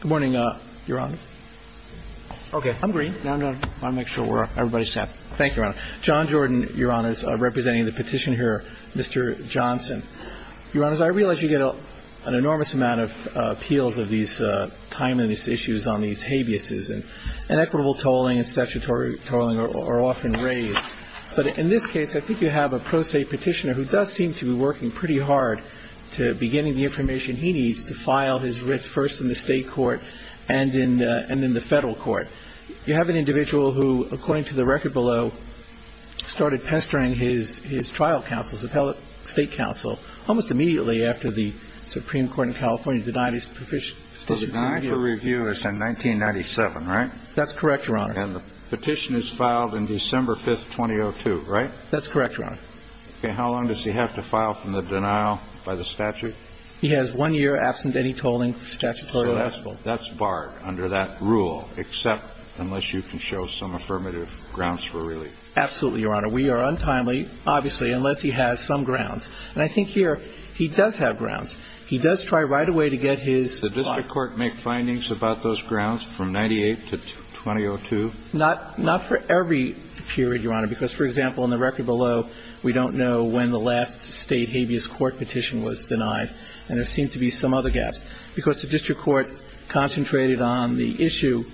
Good morning, Your Honor. Okay. I'm green. I want to make sure everybody's set. Thank you, Your Honor. John Jordan, Your Honors, representing the petitioner here, Mr. Johnson. Your Honors, I realize you get an enormous amount of appeals of these timeliness issues on these habeases, and equitable tolling and statutory tolling are often raised. But in this case, I think you have a pro se petitioner who does seem to be working pretty hard to be getting the information he needs to file his writs first in the state court and then in the federal court. You have an individual who, according to the record below, started pestering his trial counsel, his appellate state counsel, almost immediately after the Supreme Court in California denied his proficiency. Denied for review in 1997, right? That's correct, Your Honor. And the petition is filed in December 5th, 2002, right? That's correct, Your Honor. Okay. How long does he have to file from the denial by the statute? He has one year, absent any tolling, statutorily eligible. So that's barred under that rule, except unless you can show some affirmative grounds for relief. Absolutely, Your Honor. We are untimely, obviously, unless he has some grounds. And I think here he does have grounds. He does try right away to get his file. Did the district court make findings about those grounds from 98 to 2002? Not for every period, Your Honor, because, for example, in the record below, we don't know when the last state habeas court petition was denied. And there seemed to be some other gaps. Because the district court concentrated on the issue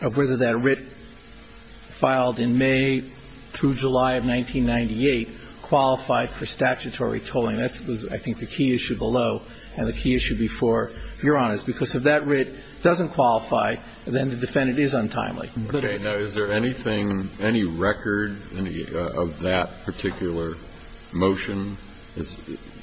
of whether that writ filed in May through July of 1998 qualified for statutory tolling. That's, I think, the key issue below and the key issue before, Your Honor, is because if that writ doesn't qualify, then the defendant is untimely. Okay. Now, is there anything, any record of that particular motion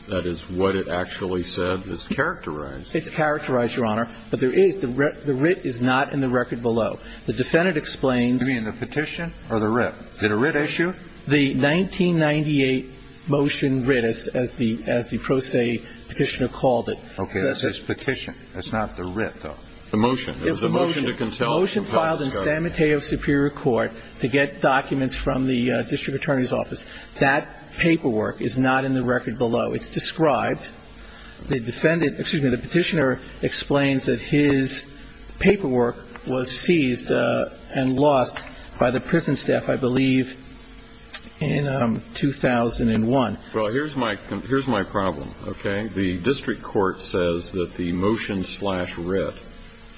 that is what it actually said is characterized? It's characterized, Your Honor. But there is. The writ is not in the record below. The defendant explains. You mean the petition or the writ? Did a writ issue? The 1998 motion writ, as the pro se petitioner called it. Okay. That's his petition. That's not the writ, though. The motion. It was a motion to contel. It was a motion. Motion filed in San Mateo Superior Court to get documents from the district attorney's office. That paperwork is not in the record below. It's described. The defendant, excuse me, the petitioner explains that his paperwork was seized and lost by the prison staff, I believe, in 2001. Well, here's my problem, okay? The district court says that the motion slash writ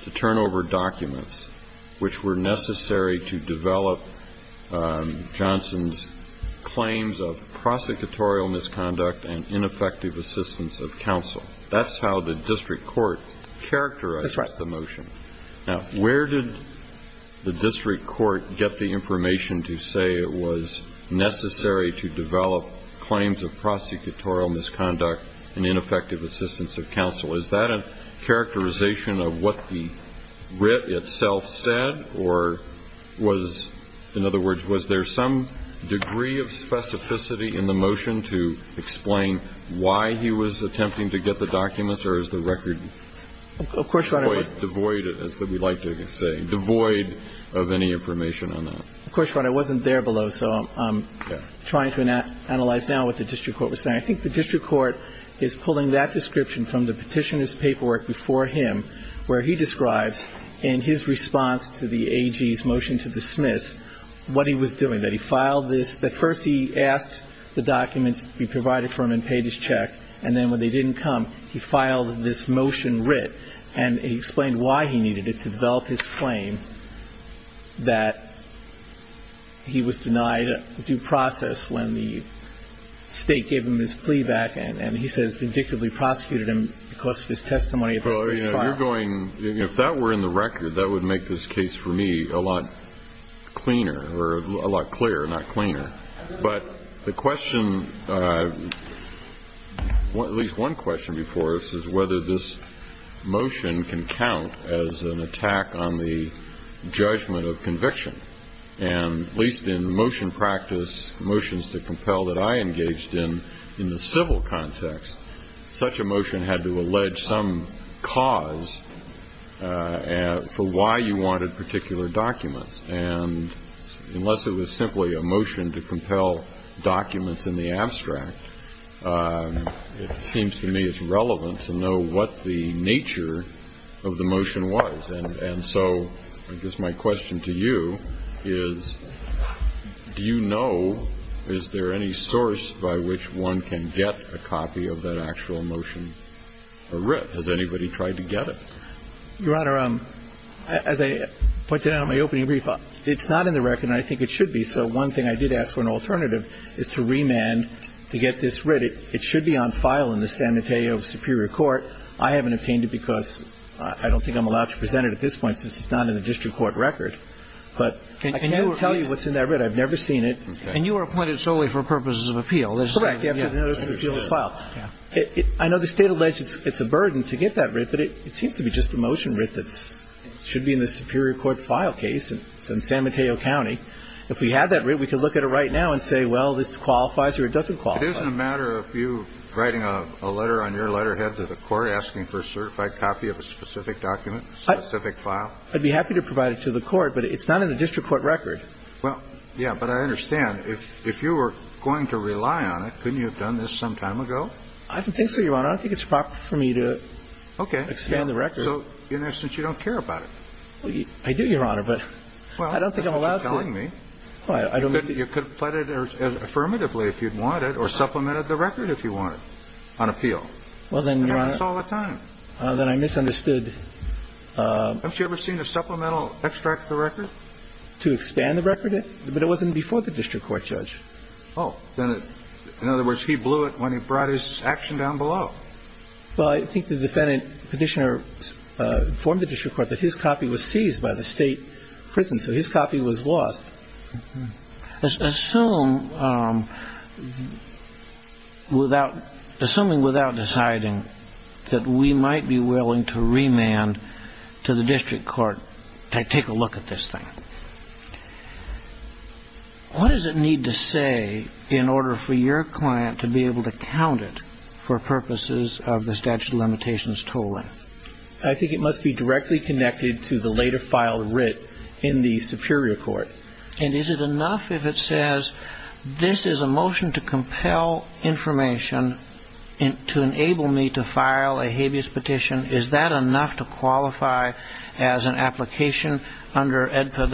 to turn over documents, which were necessary to develop Johnson's claims of prosecutorial misconduct and ineffective assistance of counsel, that's how the district court characterized the motion. That's right. Now, where did the district court get the information to say it was necessary to develop claims of prosecutorial misconduct and ineffective assistance of counsel? Is that a characterization of what the writ itself said or was, in other words, was there some degree of specificity in the motion to explain why he was attempting to get the documents or is the record quite devoid, as we like to say, devoid of any information on that? Of course, Your Honor. It wasn't there below. So I'm trying to analyze now what the district court was saying. I think the district court is pulling that description from the petitioner's paperwork before him where he describes in his response to the AG's motion to dismiss what he was doing, that he filed this, that first he asked the documents to be provided for him and paid his check, and then when they didn't come, he filed this motion that he was denied due process when the State gave him his plea back and he says vindictively prosecuted him because of his testimony that he filed. Well, you know, you're going, if that were in the record, that would make this case for me a lot cleaner or a lot clearer, not cleaner. But the question, at least one question before us, is whether this is a case that motion can count as an attack on the judgment of conviction. And at least in motion practice, motions to compel that I engaged in, in the civil context, such a motion had to allege some cause for why you wanted particular documents. And unless it was simply a motion to compel documents in the abstract, it seems to me it's relevant to know what the nature of the motion was. And so I guess my question to you is, do you know, is there any source by which one can get a copy of that actual motion or writ? Has anybody tried to get it? Your Honor, as I pointed out in my opening brief, it's not in the record and I think it should be. So one thing I did ask for an alternative is to remand to get this writ. But it should be on file in the San Mateo Superior Court. I haven't obtained it because I don't think I'm allowed to present it at this point since it's not in the district court record. But I can't tell you what's in that writ. I've never seen it. And you were appointed solely for purposes of appeal. Correct. I know the State alleges it's a burden to get that writ, but it seems to be just a motion writ that should be in the Superior Court file case in San Mateo County. If we had that writ, we could look at it right now and say, well, this qualifies or it doesn't qualify. It isn't a matter of you writing a letter on your letterhead to the court asking for a certified copy of a specific document, specific file? I'd be happy to provide it to the court, but it's not in the district court record. Well, yeah, but I understand. If you were going to rely on it, couldn't you have done this some time ago? I don't think so, Your Honor. I don't think it's proper for me to expand the record. Okay. So in essence, you don't care about it. I do, Your Honor, but I don't think I'm allowed to. Well, I don't think you're telling me. You could have pled it affirmatively if you wanted or supplemented the record if you wanted on appeal. Well, then, Your Honor. And I do this all the time. Then I misunderstood. Haven't you ever seen a supplemental extract of the record? To expand the record? But it wasn't before the district court, Judge. Oh. In other words, he blew it when he brought his action down below. Well, I think the defendant, Petitioner, informed the district court that his copy was seized by the State prison, so his copy was lost. Assuming without deciding that we might be willing to remand to the district court to take a look at this thing, what does it need to say in order for your client to be able to count it for purposes of the statute of limitations tolling? I think it must be directly connected to the later filed writ in the superior court. And is it enough if it says, this is a motion to compel information to enable me to file a habeas petition, is that enough to qualify as an application under AEDPA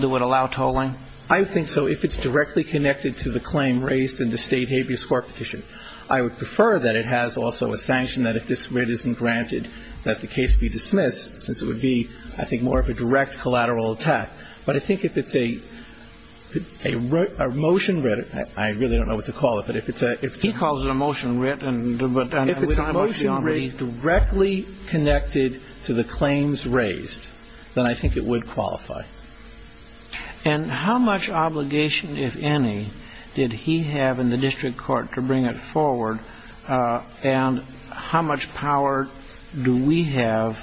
that would allow tolling? I think so if it's directly connected to the claim raised in the State habeas court petition. I would prefer that it has also a sanction that if this writ isn't granted, that the case be dismissed, since it would be, I think, more of a direct collateral attack. But I think if it's a motion writ, I really don't know what to call it, but if it's a ‑‑ He calls it a motion writ, but I'm not sure. If it's a motion writ directly connected to the claims raised, then I think it would qualify. And how much obligation, if any, did he have in the district court to bring it forward? And how much power do we have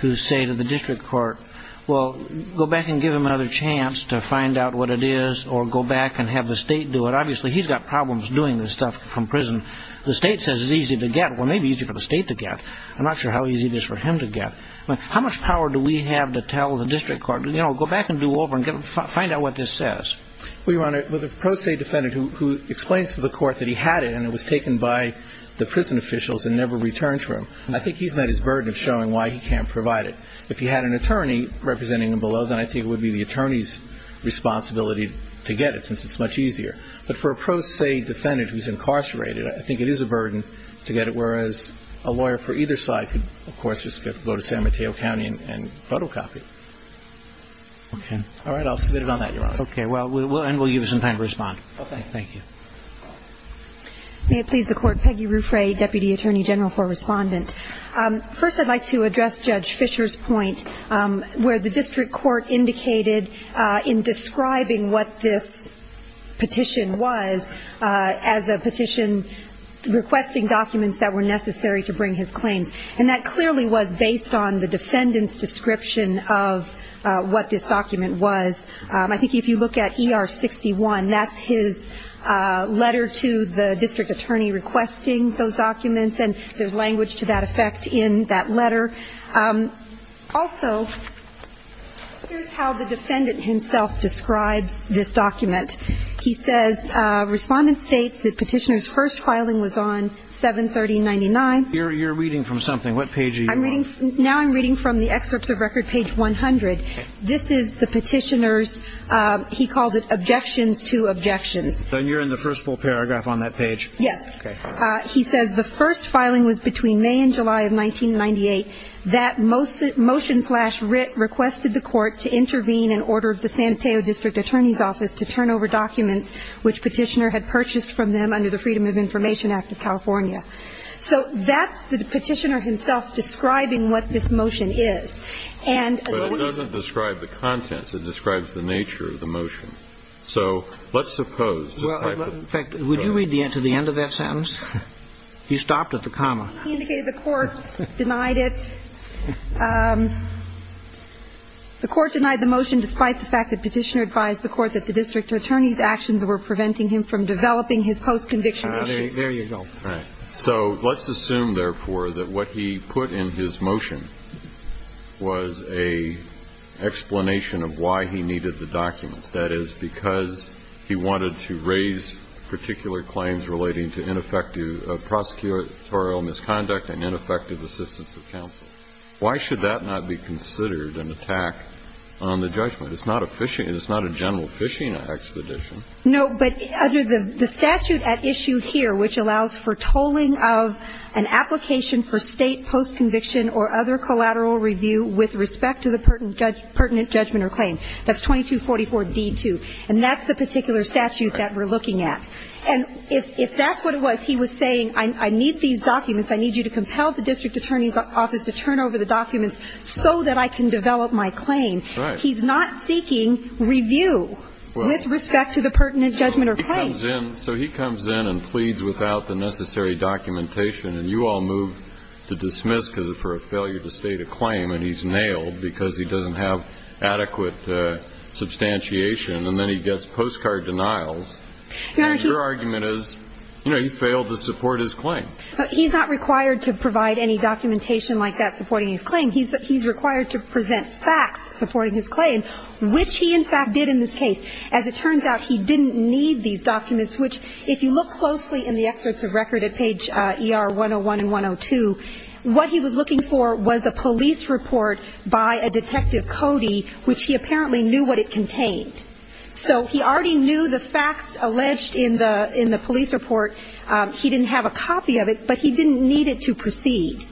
to say to the district court, well, go back and give him another chance to find out what it is or go back and have the State do it? Obviously, he's got problems doing this stuff from prison. The State says it's easy to get. Well, maybe easy for the State to get. I'm not sure how easy it is for him to get. How much power do we have to tell the district court, you know, go back and do over and find out what this says? Well, Your Honor, with a pro se defendant who explains to the court that he had it and it was taken by the prison officials and never returned to him, I think he's met his burden of showing why he can't provide it. If he had an attorney representing him below, then I think it would be the attorney's responsibility to get it since it's much easier. But for a pro se defendant who's incarcerated, I think it is a burden to get it, whereas a lawyer for either side could, of course, just go to San Mateo County and photocopy. Okay. All right. I'll submit it on that, Your Honor. Okay. And we'll give you some time to respond. Okay. Thank you. May it please the Court. Peggy Ruffray, Deputy Attorney General for Respondent. First, I'd like to address Judge Fisher's point where the district court indicated in describing what this petition was as a petition requesting documents that were necessary to bring his claims. And that clearly was based on the defendant's description of what this document was. I think if you look at ER-61, that's his letter to the district attorney requesting those documents, and there's language to that effect in that letter. Also, here's how the defendant himself describes this document. He says, Respondent states that petitioner's first filing was on 7-30-99. You're reading from something. What page are you on? Now I'm reading from the excerpts of record, page 100. This is the petitioner's, he calls it, objections to objections. So you're in the first full paragraph on that page? Yes. Okay. He says the first filing was between May and July of 1998. That motion flash writ requested the Court to intervene and order the Santeo District Attorney's Office to turn over documents which petitioner had purchased from them under the Freedom of Information Act of California. So that's the petitioner himself describing what this motion is. But it doesn't describe the contents. It describes the nature of the motion. So let's suppose. Well, in fact, would you read to the end of that sentence? He stopped at the comma. He indicated the Court denied it. The Court denied the motion despite the fact that petitioner advised the Court that the district attorney's actions were preventing him from developing his post-conviction issues. There you go. All right. So let's assume, therefore, that what he put in his motion was an explanation of why he needed the documents. That is, because he wanted to raise particular claims relating to ineffective prosecutorial misconduct and ineffective assistance of counsel. Why should that not be considered an attack on the judgment? It's not a general fishing expedition. No. But under the statute at issue here, which allows for tolling of an application for State post-conviction or other collateral review with respect to the pertinent judgment or claim. That's 2244D2. And that's the particular statute that we're looking at. And if that's what it was, he was saying, I need these documents. I need you to compel the district attorney's office to turn over the documents so that I can develop my claim. Right. He's not seeking review with respect to the pertinent judgment or claim. He comes in. So he comes in and pleads without the necessary documentation. And you all move to dismiss for a failure to state a claim. And he's nailed because he doesn't have adequate substantiation. And then he gets postcard denials. And your argument is, you know, he failed to support his claim. He's not required to provide any documentation like that supporting his claim. He's required to present facts supporting his claim, which he, in fact, did in this case. As it turns out, he didn't need these documents, which, if you look closely in the excerpts of record at page ER 101 and 102, what he was looking for was a police report by a Detective Cody, which he apparently knew what it contained. So he already knew the facts alleged in the police report. He didn't have a copy of it, but he didn't need it to proceed.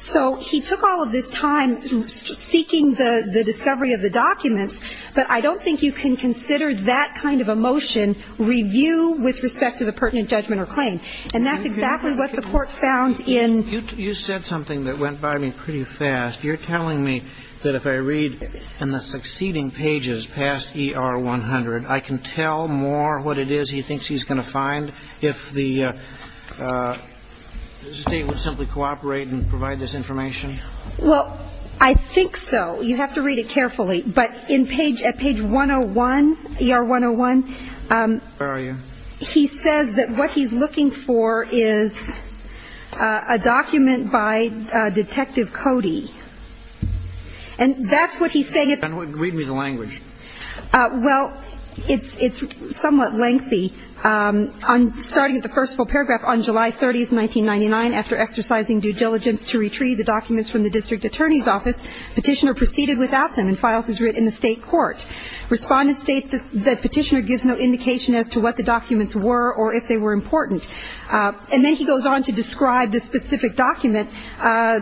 So he took all of this time seeking the discovery of the documents, but I don't think you can consider that kind of a motion, review with respect to the pertinent judgment or claim. And that's exactly what the court found in. You said something that went by me pretty fast. You're telling me that if I read in the succeeding pages past ER 100, I can tell more what it is he thinks he's going to find if the State would simply cooperate and provide this information? Well, I think so. You have to read it carefully. But in page 101, ER 101. Where are you? He says that what he's looking for is a document by Detective Cody. And that's what he's saying. Read me the language. Well, it's somewhat lengthy. Starting at the first full paragraph, on July 30th, 1999, after exercising due diligence to retrieve the documents from the district attorney's office, Petitioner proceeded without them and files his writ in the State court. Respondent states that Petitioner gives no indication as to what the documents were or if they were important. And then he goes on to describe the specific document.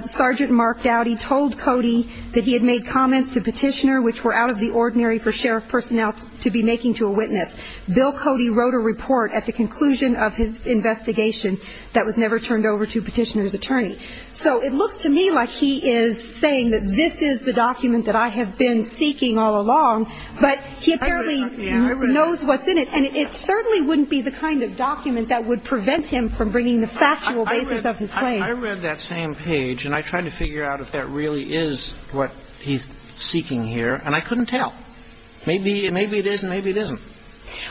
Sergeant Mark Dowdy told Cody that he had made comments to Petitioner which were out of the ordinary for sheriff personnel to be making to a witness. Bill Cody wrote a report at the conclusion of his investigation that was never turned over to Petitioner's attorney. So it looks to me like he is saying that this is the document that I have been seeking all along. But he apparently knows what's in it. And it certainly wouldn't be the kind of document that would prevent him from bringing the factual basis of his claim. I read that same page. And I tried to figure out if that really is what he's seeking here. And I couldn't tell. Maybe it is and maybe it isn't.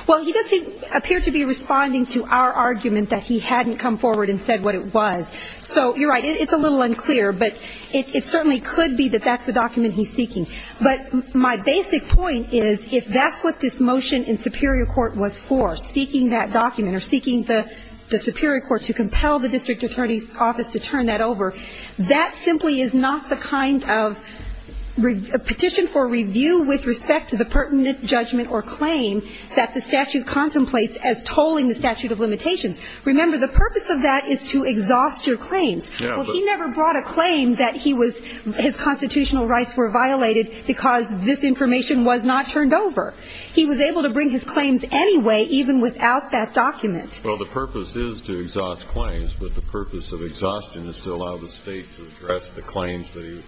Well, he does appear to be responding to our argument that he hadn't come forward and said what it was. So you're right. It's a little unclear. But it certainly could be that that's the document he's seeking. But my basic point is if that's what this motion in superior court was for, seeking that document or seeking the superior court to compel the district attorney's office to turn that over, that simply is not the kind of petition for review with respect to the pertinent judgment or claim that the statute contemplates as tolling the statute of limitations. Remember, the purpose of that is to exhaust your claims. Well, he never brought a claim that his constitutional rights were violated because this information was not turned over. He was able to bring his claims anyway, even without that document. Well, the purpose is to exhaust claims. But the purpose of exhaustion is to allow the State to address the claims that he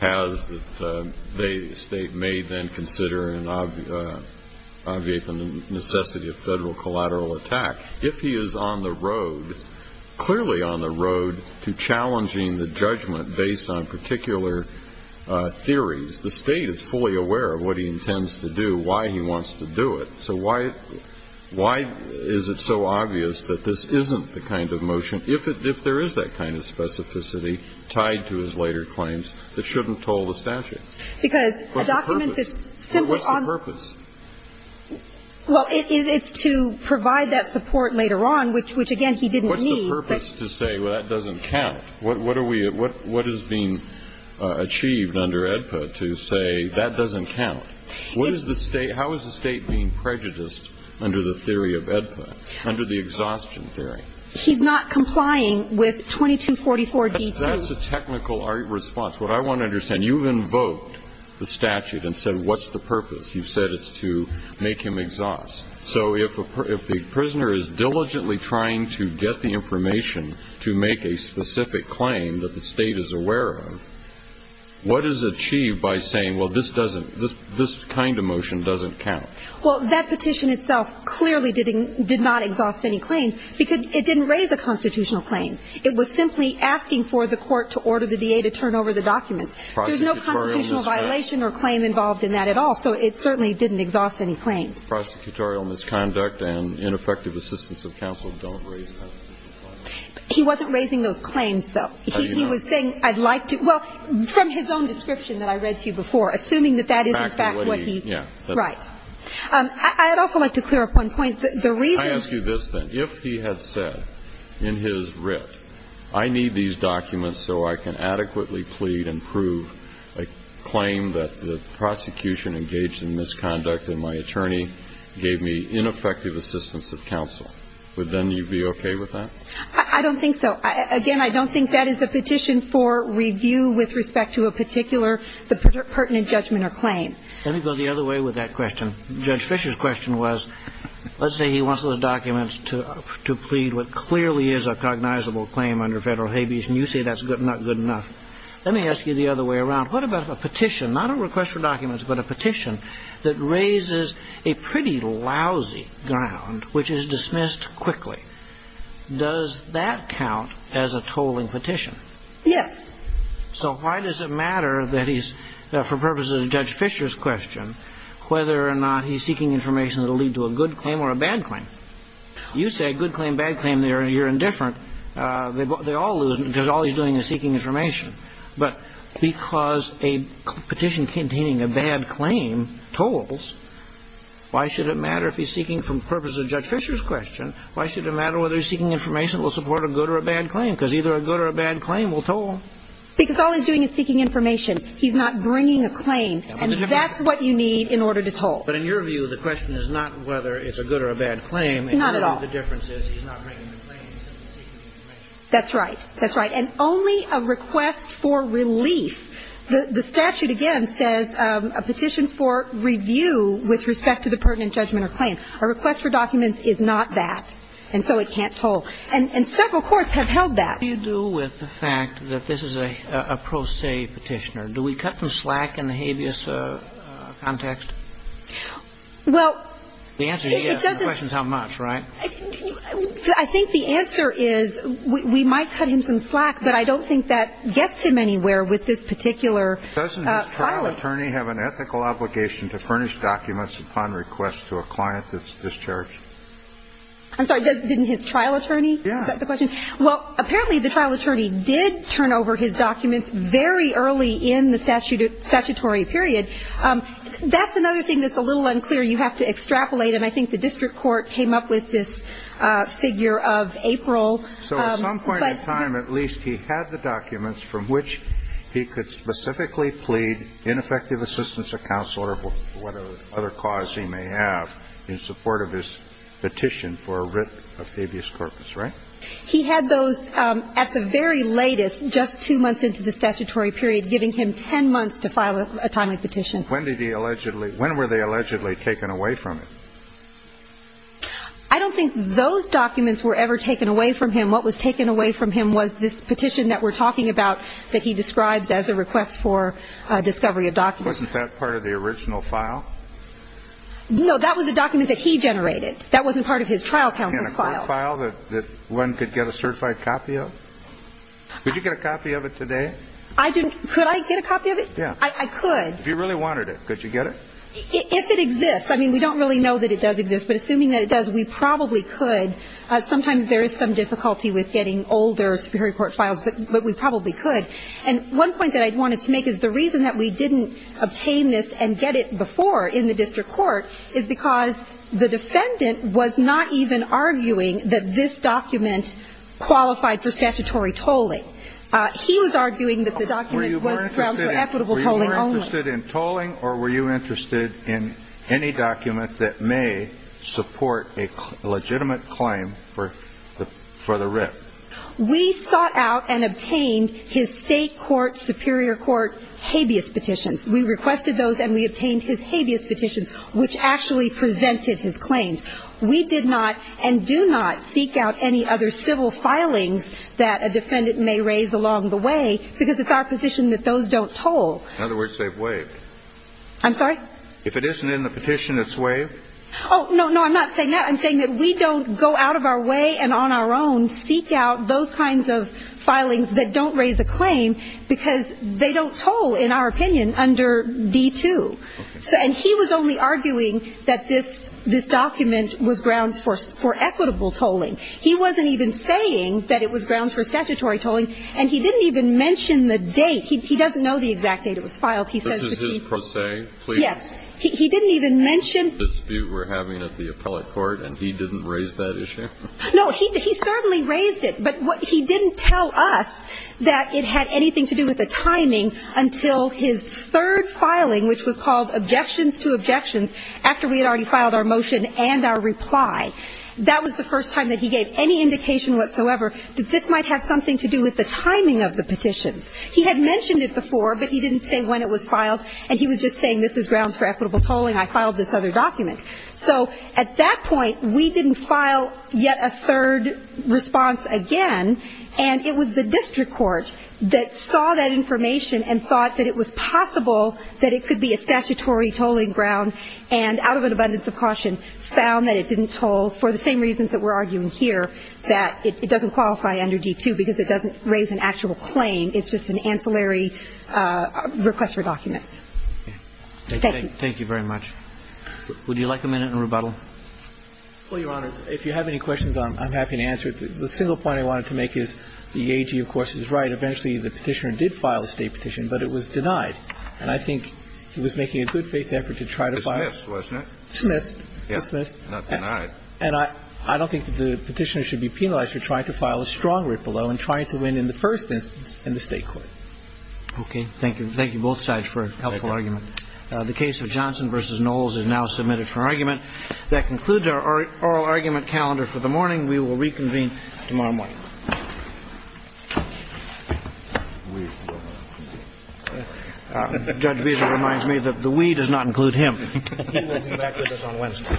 has that the State may then consider and obviate the necessity of federal collateral attack. If he is on the road, clearly on the road to challenging the judgment based on particular theories, the State is fully aware of what he intends to do, why he wants to do it. So why is it so obvious that this isn't the kind of motion, if there is that kind of specificity, tied to his later claims, that shouldn't toll the statute? Because a document that's simply on the ground. What's the purpose? Well, it's to provide that support later on, which, again, he didn't need. What's the purpose to say, well, that doesn't count? What are we at? What is being achieved under AEDPA to say that doesn't count? What is the State? How is the State being prejudiced under the theory of AEDPA, under the exhaustion theory? He's not complying with 2244d2. That's a technical response. What I want to understand, you've invoked the statute and said, what's the purpose? You've said it's to make him exhaust. So if the prisoner is diligently trying to get the information to make a specific claim that the State is aware of, what is achieved by saying, well, this kind of motion doesn't count? Well, that petition itself clearly did not exhaust any claims because it didn't raise a constitutional claim. It was simply asking for the court to order the DA to turn over the documents. There's no constitutional violation or claim involved in that at all. So it certainly didn't exhaust any claims. Prosecutorial misconduct and ineffective assistance of counsel don't raise constitutional claims. He wasn't raising those claims, though. How do you know? He was saying, I'd like to – well, from his own description that I read to you before, assuming that that is in fact what he – In fact what he – yeah. Right. I'd also like to clear up one point. The reason – Let me ask you this, then. If he had said in his writ, I need these documents so I can adequately plead and prove a claim that the prosecution engaged in misconduct and my attorney gave me ineffective assistance of counsel, would then you be okay with that? I don't think so. Again, I don't think that is a petition for review with respect to a particular pertinent judgment or claim. Let me go the other way with that question. Judge Fischer's question was, let's say he wants those documents to plead what clearly is a cognizable claim under federal habeas and you say that's not good enough. Let me ask you the other way around. What about a petition, not a request for documents, but a petition that raises a pretty lousy ground which is dismissed quickly? Does that count as a tolling petition? Yes. So why does it matter that he's, for purposes of Judge Fischer's question, whether or not he's seeking information that will lead to a good claim or a bad claim? You say good claim, bad claim, you're indifferent. They all lose because all he's doing is seeking information. But because a petition containing a bad claim tolls, why should it matter if he's seeking for purposes of Judge Fischer's question, why should it matter whether he's seeking information because either a good or a bad claim will toll. Because all he's doing is seeking information. He's not bringing a claim. And that's what you need in order to toll. But in your view, the question is not whether it's a good or a bad claim. Not at all. The difference is he's not bringing a claim. That's right. That's right. And only a request for relief. The statute, again, says a petition for review with respect to the pertinent judgment or claim. A request for documents is not that. And so it can't toll. And several courts have held that. What do you do with the fact that this is a pro se petitioner? Do we cut some slack in the habeas context? Well, it doesn't. The answer is yes, but the question is how much, right? I think the answer is we might cut him some slack, but I don't think that gets him anywhere with this particular trial. Doesn't his trial attorney have an ethical obligation to furnish documents upon request to a client that's discharged? I'm sorry. Didn't his trial attorney set the question? Yes. Well, apparently the trial attorney did turn over his documents very early in the statutory period. That's another thing that's a little unclear. You have to extrapolate, and I think the district court came up with this figure of April. So at some point in time, at least, he had the documents from which he could specifically plead ineffective assistance for whatever other cause he may have in support of his petition for a writ of habeas corpus, right? He had those at the very latest, just two months into the statutory period, giving him ten months to file a timely petition. When did he allegedly ñ when were they allegedly taken away from him? I don't think those documents were ever taken away from him. What was taken away from him was this petition that we're talking about that he describes as a request for discovery of documents. Wasn't that part of the original file? No, that was a document that he generated. That wasn't part of his trial counsel's file. And a court file that one could get a certified copy of? Could you get a copy of it today? I didn't ñ could I get a copy of it? Yeah. I could. If you really wanted it, could you get it? If it exists. I mean, we don't really know that it does exist, but assuming that it does, we probably could. Sometimes there is some difficulty with getting older Superior Court files, but we probably could. And one point that I wanted to make is the reason that we didn't obtain this and get it before in the district court is because the defendant was not even arguing that this document qualified for statutory tolling. He was arguing that the document was for equitable tolling only. Were you more interested in tolling or were you interested in any document that may support a legitimate claim for the writ? We sought out and obtained his state court Superior Court habeas petitions. We requested those and we obtained his habeas petitions, which actually presented his claims. We did not and do not seek out any other civil filings that a defendant may raise along the way because it's our petition that those don't toll. In other words, they've waived. I'm sorry? If it isn't in the petition, it's waived? Oh, no, no. I'm not saying that. I'm saying that we don't go out of our way and on our own seek out those kinds of filings that don't raise a claim because they don't toll, in our opinion, under D-2. And he was only arguing that this document was grounds for equitable tolling. He wasn't even saying that it was grounds for statutory tolling and he didn't even mention the date. He doesn't know the exact date it was filed. This is his pro se? Yes. He didn't even mention the dispute we're having at the appellate court and he didn't raise that issue? No, he certainly raised it, but he didn't tell us that it had anything to do with the timing until his third filing, which was called objections to objections, after we had already filed our motion and our reply. That was the first time that he gave any indication whatsoever that this might have something to do with the timing of the petitions. He had mentioned it before, but he didn't say when it was filed, and he was just saying this is grounds for equitable tolling. I filed this other document. So at that point, we didn't file yet a third response again, and it was the district court that saw that information and thought that it was possible that it could be a statutory tolling ground and, out of an abundance of caution, found that it didn't toll for the same reasons that we're arguing here, that it doesn't qualify under D-2 because it doesn't raise an actual claim. It's just an ancillary request for documents. Okay. Thank you. Thank you very much. Would you like a minute in rebuttal? Well, Your Honor, if you have any questions, I'm happy to answer it. The single point I wanted to make is the AG, of course, is right. Eventually, the petitioner did file a State petition, but it was denied. And I think he was making a good-faith effort to try to file it. Dismissed, wasn't it? Yeah. Not denied. And I don't think that the petitioner should be penalized for trying to file a strong rip-a-low and trying to win in the first instance in the State court. Okay. Thank you. Thank you, both sides, for a helpful argument. The case of Johnson v. Knowles is now submitted for argument. That concludes our oral argument calendar for the morning. We will reconvene tomorrow morning. Judge Beasley reminds me that the we does not include him. He will be back with us on Wednesday. Thank you.